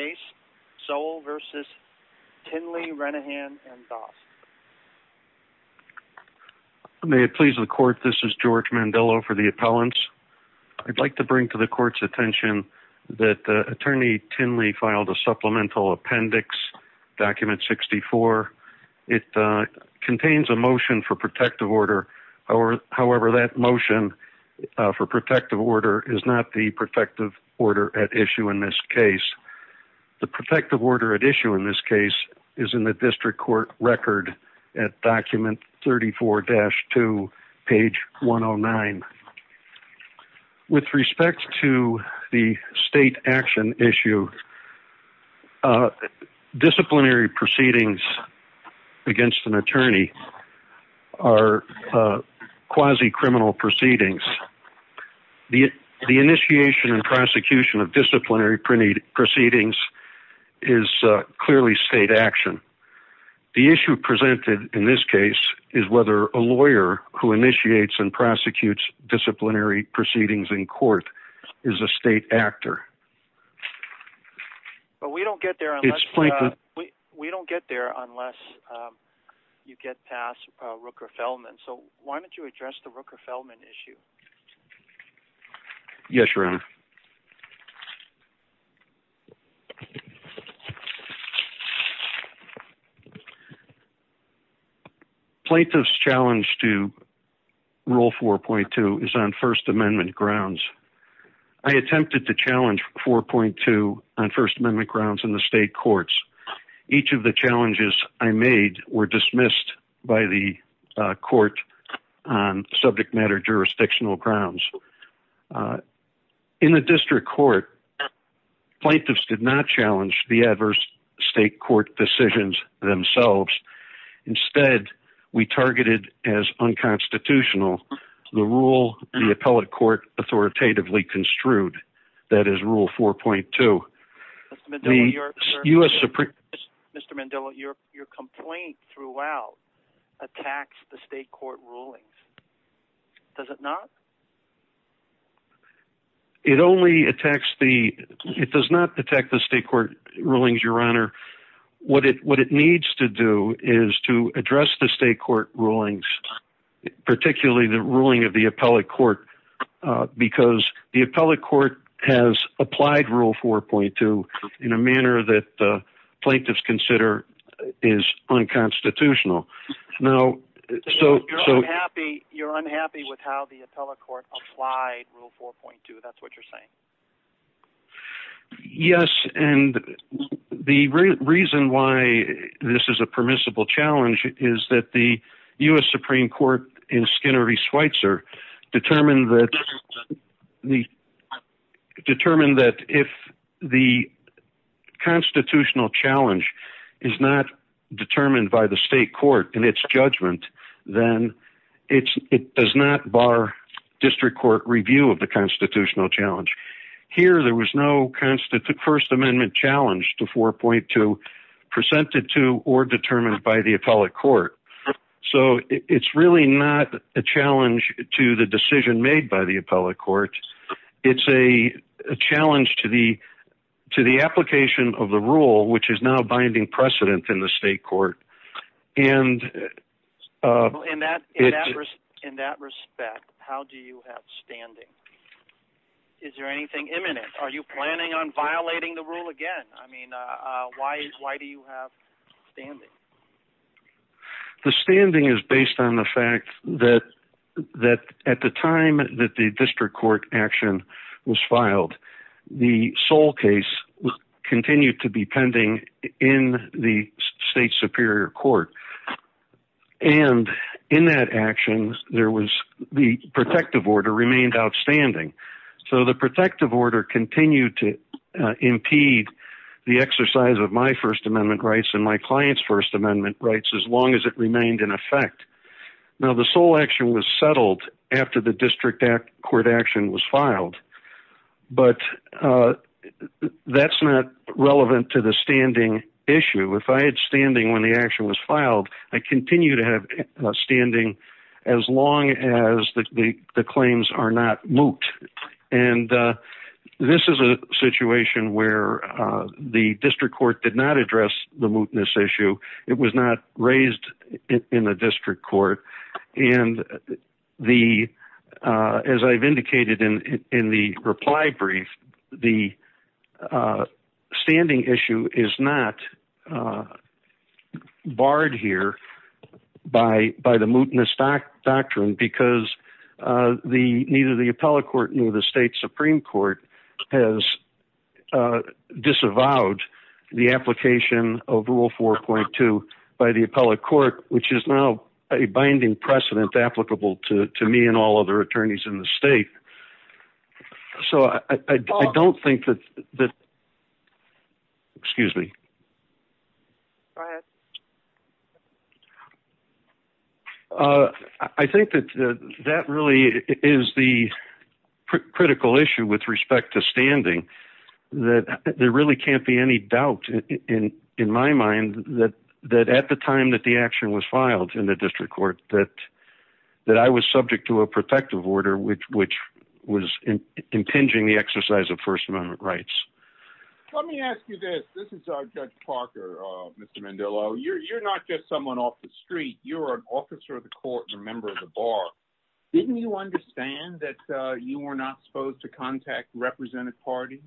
case, Sowell v. Tinley-Renahan v. Dost. May it please the Court, this is George Mandello for the Appellants. I'd like to bring to the Court's attention that Attorney Tinley filed a supplemental appendix, Document 64. It contains a motion for protective order, however that motion for protective order is not the protective order at issue in this case. The protective order at issue in this case is in the District Court record at Document 34-2, page 109. With respect to the state action issue, disciplinary initiation and prosecution of disciplinary proceedings is clearly state action. The issue presented in this case is whether a lawyer who initiates and prosecutes disciplinary proceedings in court is a state actor. But we don't get there unless you get past Rooker-Feldman, so why don't you address the Rooker-Feldman issue? Yes, Your Honor. Plaintiff's challenge to Rule 4.2 is on First Amendment grounds. I attempted to challenge 4.2 on First Amendment court on subject matter jurisdictional grounds. In the District Court, plaintiffs did not challenge the adverse state court decisions themselves. Instead, we targeted as unconstitutional the rule the appellate court authoritatively construed, that is Rule 4.2. Mr. Mandello, your complaint throughout attacks the state court rulings. Does it not? It does not attack the state court rulings, Your Honor. What it needs to do is to address the state court rulings, particularly the ruling of the appellate court, because the appellate court has applied Rule 4.2 in a manner that plaintiffs consider is unconstitutional. You're unhappy with how the appellate court applied Rule 4.2, that's what you're saying? Yes, and the reason why this is a permissible challenge is that the U.S. Supreme Court in Skinner v. Schweitzer determined that if the constitutional challenge is not determined by the state court in its judgment, then it does not bar District Court review of the constitutional challenge. Here, there was no First Amendment challenge to 4.2 presented to or determined by the appellate court, so it's really not a challenge to the decision made by the appellate court. It's a challenge to the application of the rule, which is now binding precedent in the state court. In that respect, how do you have standing? Is there anything imminent? Are you planning on violating the rule again? I mean, why do you have standing? The standing is based on the fact that at the time that the District Court action was filed, the Sol case continued to be pending in the state Superior Court, and in that action, there was the protective order remained outstanding, so the protective order continued to First Amendment rights as long as it remained in effect. Now, the Sol action was settled after the District Court action was filed, but that's not relevant to the standing issue. If I had standing when the action was filed, I continue to have standing as long as the claims are not moot, and this is a situation where the District Court did not address the mootness issue. It was not raised in the District Court, and as I've indicated in the reply brief, the standing issue is not barred here by the mootness doctrine, because neither the appellate court nor the state Supreme Court has disavowed the application of Rule 4.2 by the appellate court, which is now a binding precedent applicable to me and all other attorneys in the state. I think that that really is the critical issue with respect to standing. There really can't be any doubt in my mind that at the time that the I was subject to a protective order, which was impinging the exercise of First Amendment rights. Let me ask you this. This is Judge Parker, Mr. Mandillo. You're not just someone off the street. You're an officer of the court and a member of the bar. Didn't you understand that you were not supposed to contact represented parties?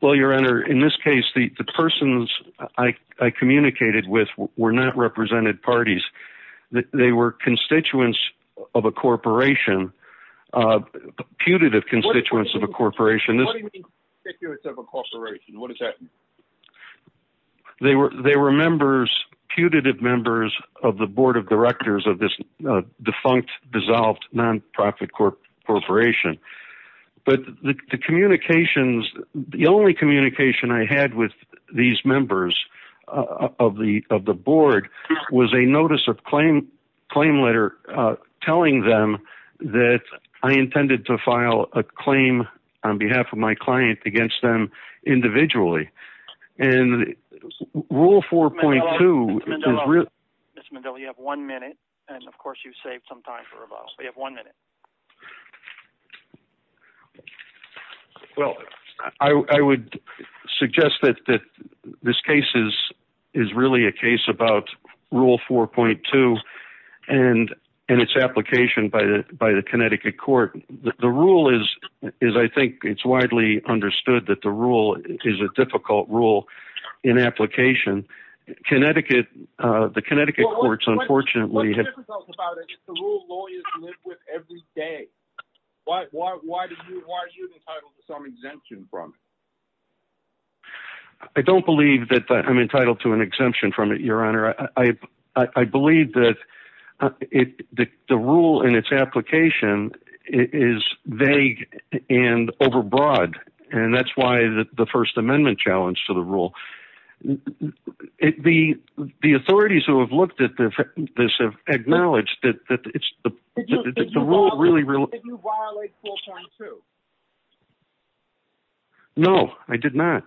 Well, your honor, in this case, the persons I communicated with were not represented parties. They were constituents of a corporation, putative constituents of a corporation. What do you mean, constituents of a corporation? What does that mean? They were putative members of the board of directors of this defunct, dissolved, non-profit corporation. But the communications, the only communication I had with these members of the board was a notice of claim letter telling them that I intended to file a claim on behalf of my client against them individually. And rule 4.2- Mr. Mandillo, you have one minute. And of course, you saved some time for rebuttal. You have one minute. Well, I would suggest that this case is really a case about rule 4.2 and its application by the Connecticut court. The rule is, I think it's widely understood that the rule is a difficult rule in application. Connecticut, the Connecticut courts, unfortunately- What's the difference about it? It's a rule lawyers live with every day. Why are you entitled to some exemption from it? I don't believe that I'm entitled to an exemption from it, your honor. I believe that the rule and its application is vague and overbroad. And that's why the first amendment challenge to the rule. The authorities who have looked at this have acknowledged that it's- Did you violate 4.2? No, I did not.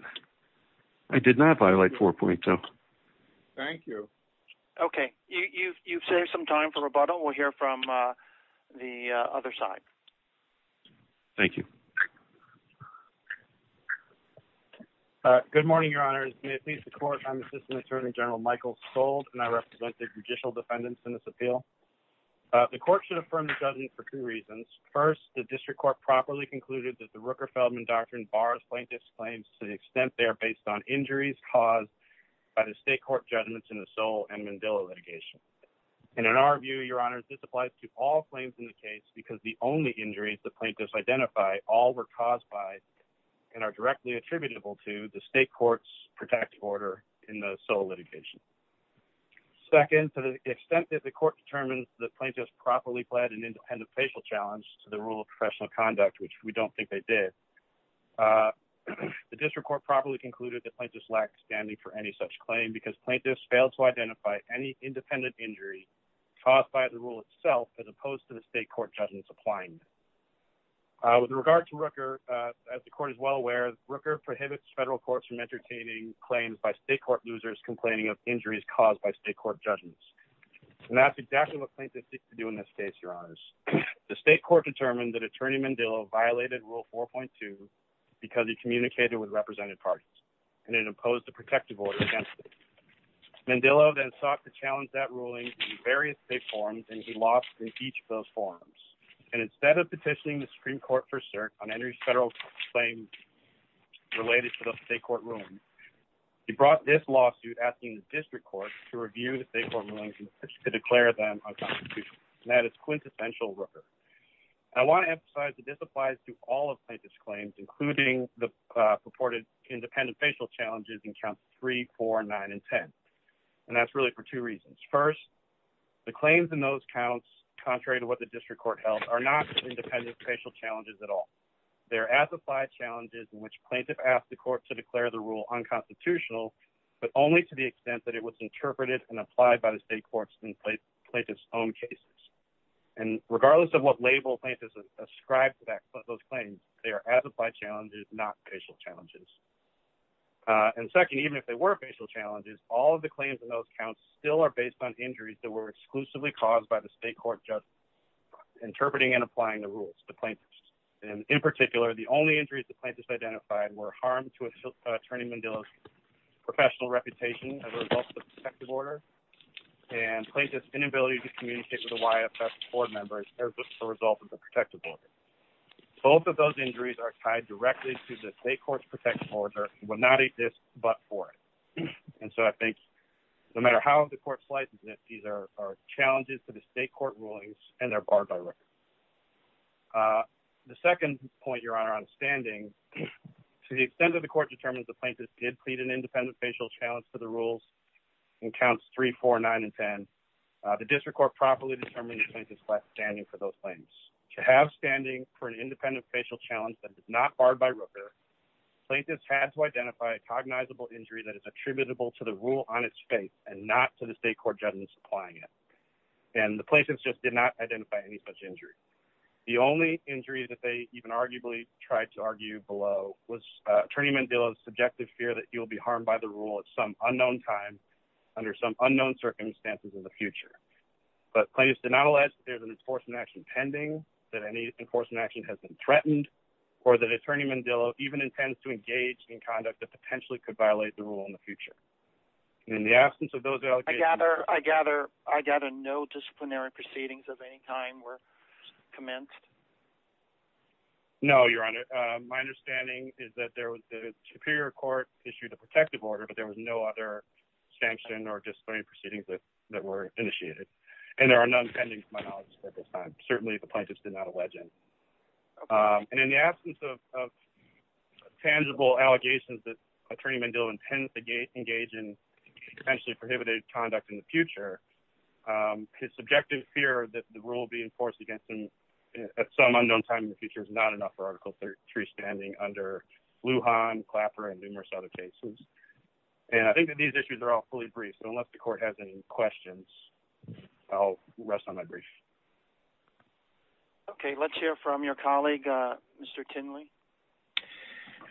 I did not violate 4.2. Thank you. Okay. You've saved some time for rebuttal. We'll hear from the other side. Thank you. Good morning, your honors. May it please the court, I'm assistant attorney general Michael Sold and I represent the judicial defendants in this appeal. The court should affirm the judgment for two reasons. First, the district court properly concluded that the Rooker-Feldman doctrine bars plaintiff's claims to the extent they are based on injuries caused by the state court judgments in the Sol and Mandela litigation. And in our view, your honors, this applies to all injuries the plaintiffs identify all were caused by and are directly attributable to the state court's protective order in the Sol litigation. Second, to the extent that the court determines the plaintiffs properly fled an independent facial challenge to the rule of professional conduct, which we don't think they did. The district court properly concluded that plaintiffs lack standing for any such claim because plaintiffs failed to identify any independent injury caused by the rule itself as opposed to the state court judgments applying. With regard to Rooker, as the court is well aware, Rooker prohibits federal courts from entertaining claims by state court losers complaining of injuries caused by state court judgments. And that's exactly what plaintiffs seek to do in this case, your honors. The state court determined that attorney Mandela violated rule 4.2 because he communicated with representative parties and then imposed a protective order against it. Mandela then sought to challenge that ruling in various state forums and he lost in each of those forums. And instead of petitioning the Supreme Court for cert on any federal claims related to the state court ruling, he brought this lawsuit asking the district court to review the state court rulings and to declare them unconstitutional. And that is quintessential Rooker. I want to emphasize that this applies to all of plaintiff's claims, including the purported independent facial challenges in counts 3, 4, 9, and 10. And that's really for two reasons. First, the claims in those counts, contrary to what the district court held, are not independent facial challenges at all. They're as applied challenges in which plaintiff asked the court to declare the rule unconstitutional, but only to the extent that it was interpreted and applied by the state courts in plaintiff's own cases. And regardless of what label plaintiffs ascribed to those claims, they are as applied challenges, not facial challenges. And second, even if they were facial challenges, all of the claims in those counts still are based on injuries that were exclusively caused by the state court just interpreting and applying the rules to plaintiffs. And in particular, the only injuries the plaintiffs identified were harm to attorney Mandela's professional reputation as a result of the protective order and plaintiff's inability to communicate with the YFS board members as a result of the protective order. Both of those injuries are tied directly to the state court's protective order and would not exist but for it. And so I think no matter how the court slices it, these are challenges to the state court rulings and they're barred by record. The second point, Your Honor, on standing, to the extent that the court determines the plaintiff did plead an independent facial challenge to the rules in counts 3, 4, 9, and 10, the district court properly determines the plaintiff's standing for those claims. To have standing for an independent facial challenge that is not barred by Rooker, plaintiffs had to identify a cognizable injury that is attributable to the rule on its face and not to the state court judgment supplying it. And the plaintiffs just did not identify any such injury. The only injury that they even arguably tried to argue below was attorney Mandela's subjective fear that he will be harmed by the there's an enforcement action pending, that any enforcement action has been threatened, or that attorney Mandela even intends to engage in conduct that potentially could violate the rule in the future. In the absence of those allegations... I gather no disciplinary proceedings of any kind were commenced? No, Your Honor. My understanding is that the Superior Court issued a protective order but there was no other sanction or disciplinary proceedings that were initiated. And there are none pending to my knowledge at this time. Certainly, the plaintiffs did not allege it. And in the absence of tangible allegations that attorney Mandela intends to engage in potentially prohibited conduct in the future, his subjective fear that the rule be enforced against him at some unknown time in the future is not enough for Article 3 standing under Lujan, Clapper, and numerous other cases. And I think that these issues are all fully briefed, so unless the court has any questions, I'll rest on my brief. Okay, let's hear from your colleague, Mr. Tinley.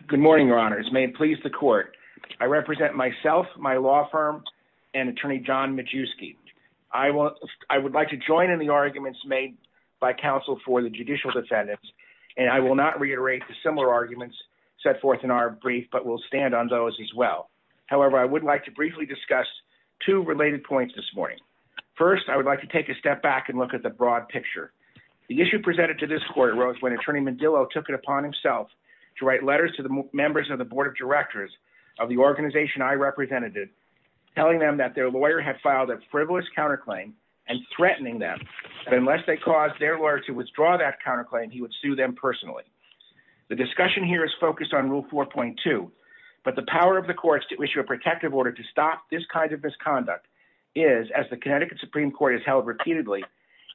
Good morning, Your Honors. May it please the court. I represent myself, my law firm, and attorney John Majewski. I would like to join in the arguments made by counsel for the judicial defendants, and I will not reiterate the similar arguments set forth in our brief, but will stand on those well. However, I would like to briefly discuss two related points this morning. First, I would like to take a step back and look at the broad picture. The issue presented to this court arose when attorney Mandela took it upon himself to write letters to the members of the Board of Directors of the organization I represented, telling them that their lawyer had filed a frivolous counterclaim and threatening them that unless they caused their lawyer to withdraw that counterclaim, he would sue them personally. The discussion here is focused on Rule 4.2, but the power of the courts to issue a protective order to stop this kind of misconduct is, as the Connecticut Supreme Court has held repeatedly,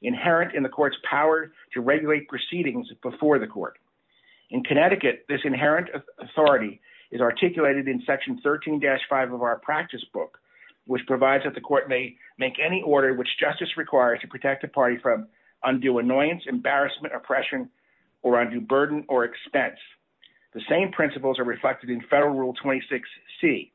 inherent in the court's power to regulate proceedings before the court. In Connecticut, this inherent authority is articulated in Section 13-5 of our practice book, which provides that the court may make any order which justice requires to protect a party from undue annoyance, embarrassment, oppression, or undue burden or expense. The same principles are reflected in Federal Rule 26C.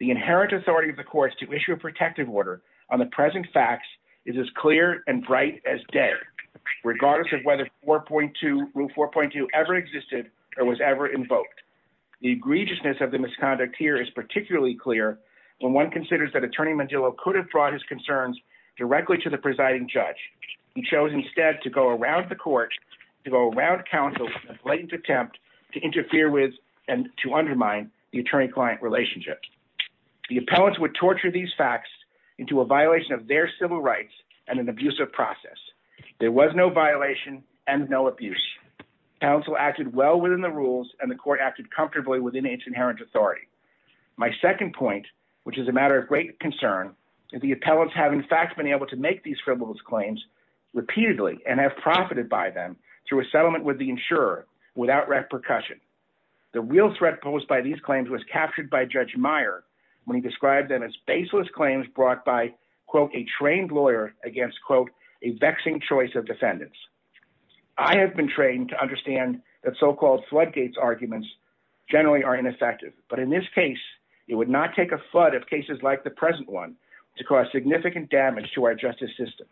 The inherent authority of the courts to issue a protective order on the present facts is as clear and bright as day, regardless of whether Rule 4.2 ever existed or was ever invoked. The egregiousness of the misconduct here is particularly clear when one considers that attorney Mandela could have brought his concerns directly to the presiding judge. He chose instead to go around the court, to go around counsel in a blatant attempt to interfere with and to undermine the attorney-client relationship. The appellants would torture these facts into a violation of their civil rights and an abusive process. There was no violation and no abuse. Counsel acted well within the rules and the court acted comfortably within its inherent authority. My second point, which is a matter of great concern, is the appellants have in fact been able to make these frivolous claims repeatedly and have profited by them through a settlement with the insurer without repercussion. The real threat posed by these claims was captured by Judge Meyer when he described them as baseless claims brought by, quote, a trained lawyer against, quote, a vexing choice of defendants. I have been trained to understand that so-called floodgates arguments generally are ineffective, but in this case it would not take a flood of cases like the present one to cause significant damage to our justice system.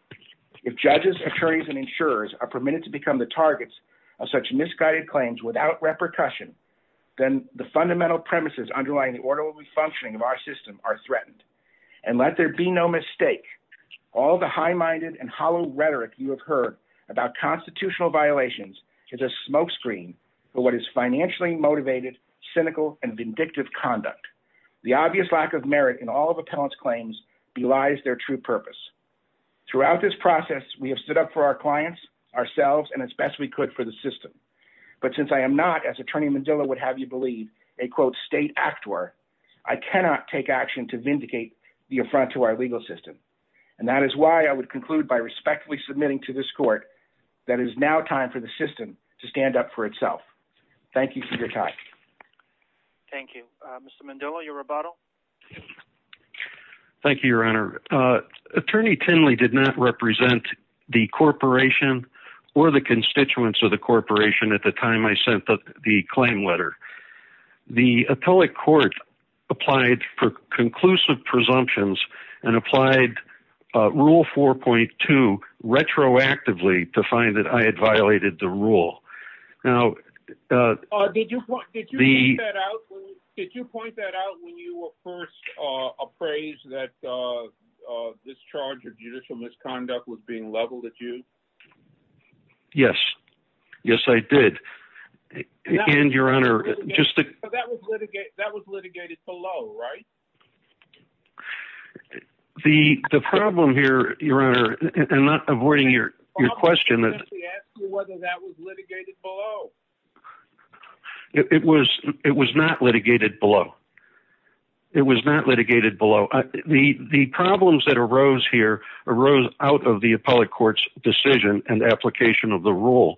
If judges, attorneys, and insurers are permitted to become the targets of such misguided claims without repercussion, then the fundamental premises underlying the orderly functioning of our system are threatened. And let there be no mistake, all the high-minded and hollow rhetoric you have heard about constitutional violations is a smoke screen for what is financially motivated, cynical, and vindictive conduct. The obvious lack of merit in all of appellants' claims belies their true purpose. Throughout this process, we have stood up for our clients, ourselves, and as best we could for the system. But since I am not, as Attorney Mandela would have you believe, a, quote, state actor, I cannot take action to vindicate the affront to our legal system. And that is why I would conclude by respectfully submitting to this court that it is now time for the system to stand up for itself. Thank you for your time. Thank you. Mr. Mandela, your rebuttal. Thank you, Your Honor. Attorney Tinley did not represent the corporation or the constituents of the corporation at the time I sent the claim letter. The appellate court applied for conclusive presumptions and applied Rule 4.2 retroactively to find that I had violated the rule. Now, did you point that out when you were first appraised that this charge of judicial misconduct was being leveled at you? Yes. Yes, I did. And, Your Honor, just to... That was litigated below, right? The problem here, Your Honor, and not avoiding your question... Whether that was litigated below? It was not litigated below. It was not litigated below. The problems that arose here arose out of the appellate court's decision and application of the rule.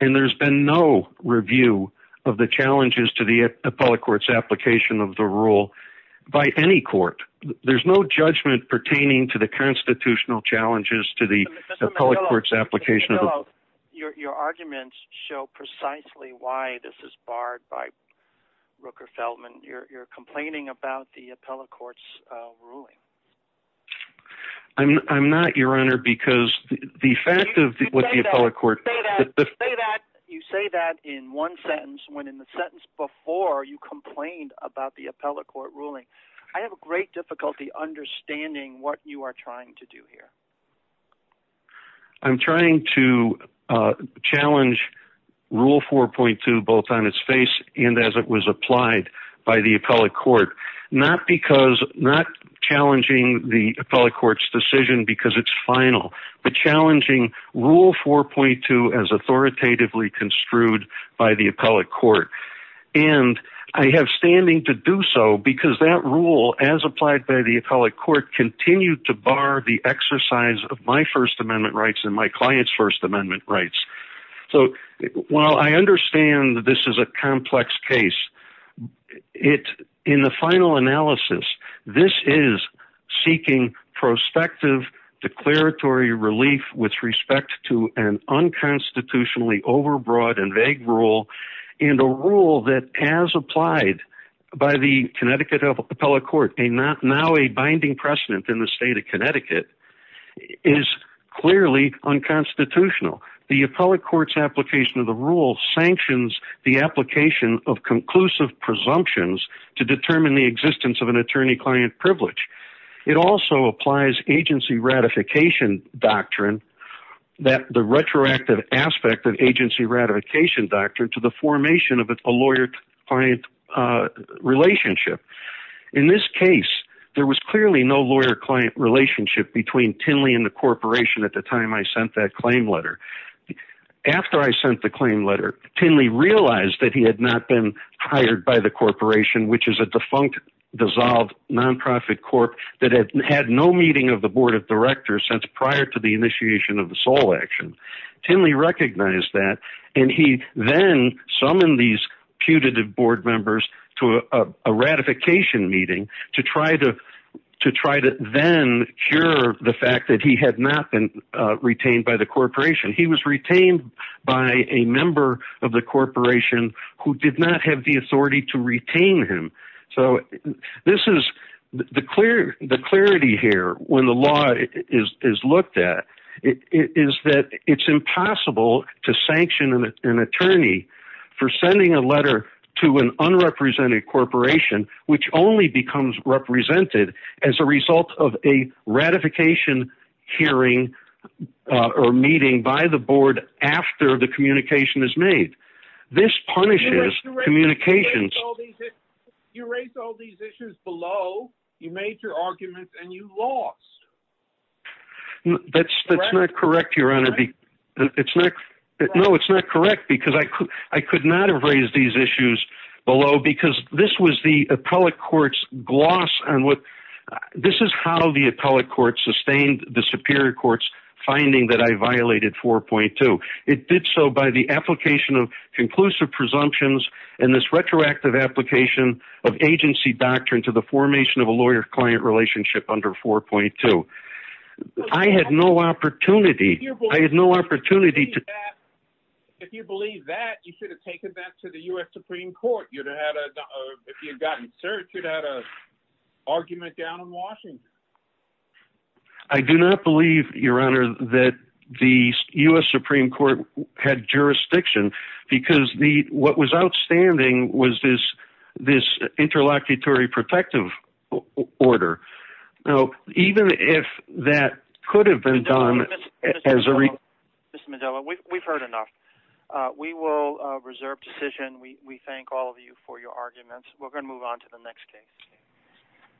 And there's been no review of the challenges to the appellate court's application of the rule by any court. There's no judgment pertaining to the constitutional challenges to the appellate court's application of the rule. Your arguments show precisely why this is barred by Rooker-Feldman. You're complaining about the appellate court's ruling. I'm not, Your Honor, because the fact of what the appellate court... You say that in one sentence when in the sentence before you complained about the appellate court ruling. I have great difficulty understanding what you are trying to do here. I'm trying to challenge Rule 4.2 both on its face and as it was applied by the appellate court. Not because... Not challenging the appellate court's decision because it's final, but challenging Rule 4.2 as authoritatively construed by the appellate court. And I have standing to do so because that rule, as applied by the appellate court, continued to bar the exercise of my First Amendment rights and my client's First Amendment rights. So while I understand that this is a complex case, in the final analysis, this is seeking prospective declaratory relief with respect to an unconstitutionally overbroad and vague rule and a rule that, as applied by the Connecticut appellate court, now a binding precedent in the is clearly unconstitutional. The appellate court's application of the rule sanctions the application of conclusive presumptions to determine the existence of an attorney-client privilege. It also applies agency ratification doctrine that the retroactive aspect of agency ratification doctrine to the formation of a lawyer-client relationship. In this case, there was clearly no lawyer-client relationship between Tinley and the corporation at the time I sent that claim letter. After I sent the claim letter, Tinley realized that he had not been hired by the corporation, which is a defunct, dissolved, non-profit corp that had had no meeting of the board of directors since prior to the initiation of the SOLE action. Tinley recognized that, and he then summoned these putative board members to a ratification meeting to try to then cure the fact that he had not been retained by the corporation. He was retained by a member of the corporation who did not have the authority to retain him. So the clarity here, when the law is looked at, is that it's impossible to sanction an attorney for sending a letter to an unrepresented corporation, which only becomes represented as a result of a ratification hearing or meeting by the board after the communication is made. This punishes communications. You erased all these issues below. You made your arguments, and you lost. That's not correct, Your Honor. No, it's not correct, because I could not have raised these issues below, because this was the appellate court's gloss on what... This is how the appellate court sustained the superior court's finding that I violated 4.2. It did so by the application of conclusive presumptions and this retroactive application of agency doctrine to the formation of a lawyer-client relationship under 4.2. I had no opportunity... I had no opportunity to... If you believe that, you should have taken that to the U.S. Supreme Court. If you had gotten searched, you'd have had an argument down in Washington. I do not believe, Your Honor, that the U.S. Supreme Court had jurisdiction, because what was outstanding was this interlocutory protective order. Now, even if that could have been done as a... Mr. Mandela, we've heard enough. We will reserve decision. We thank all of you for your arguments. We're going to move on to the next case.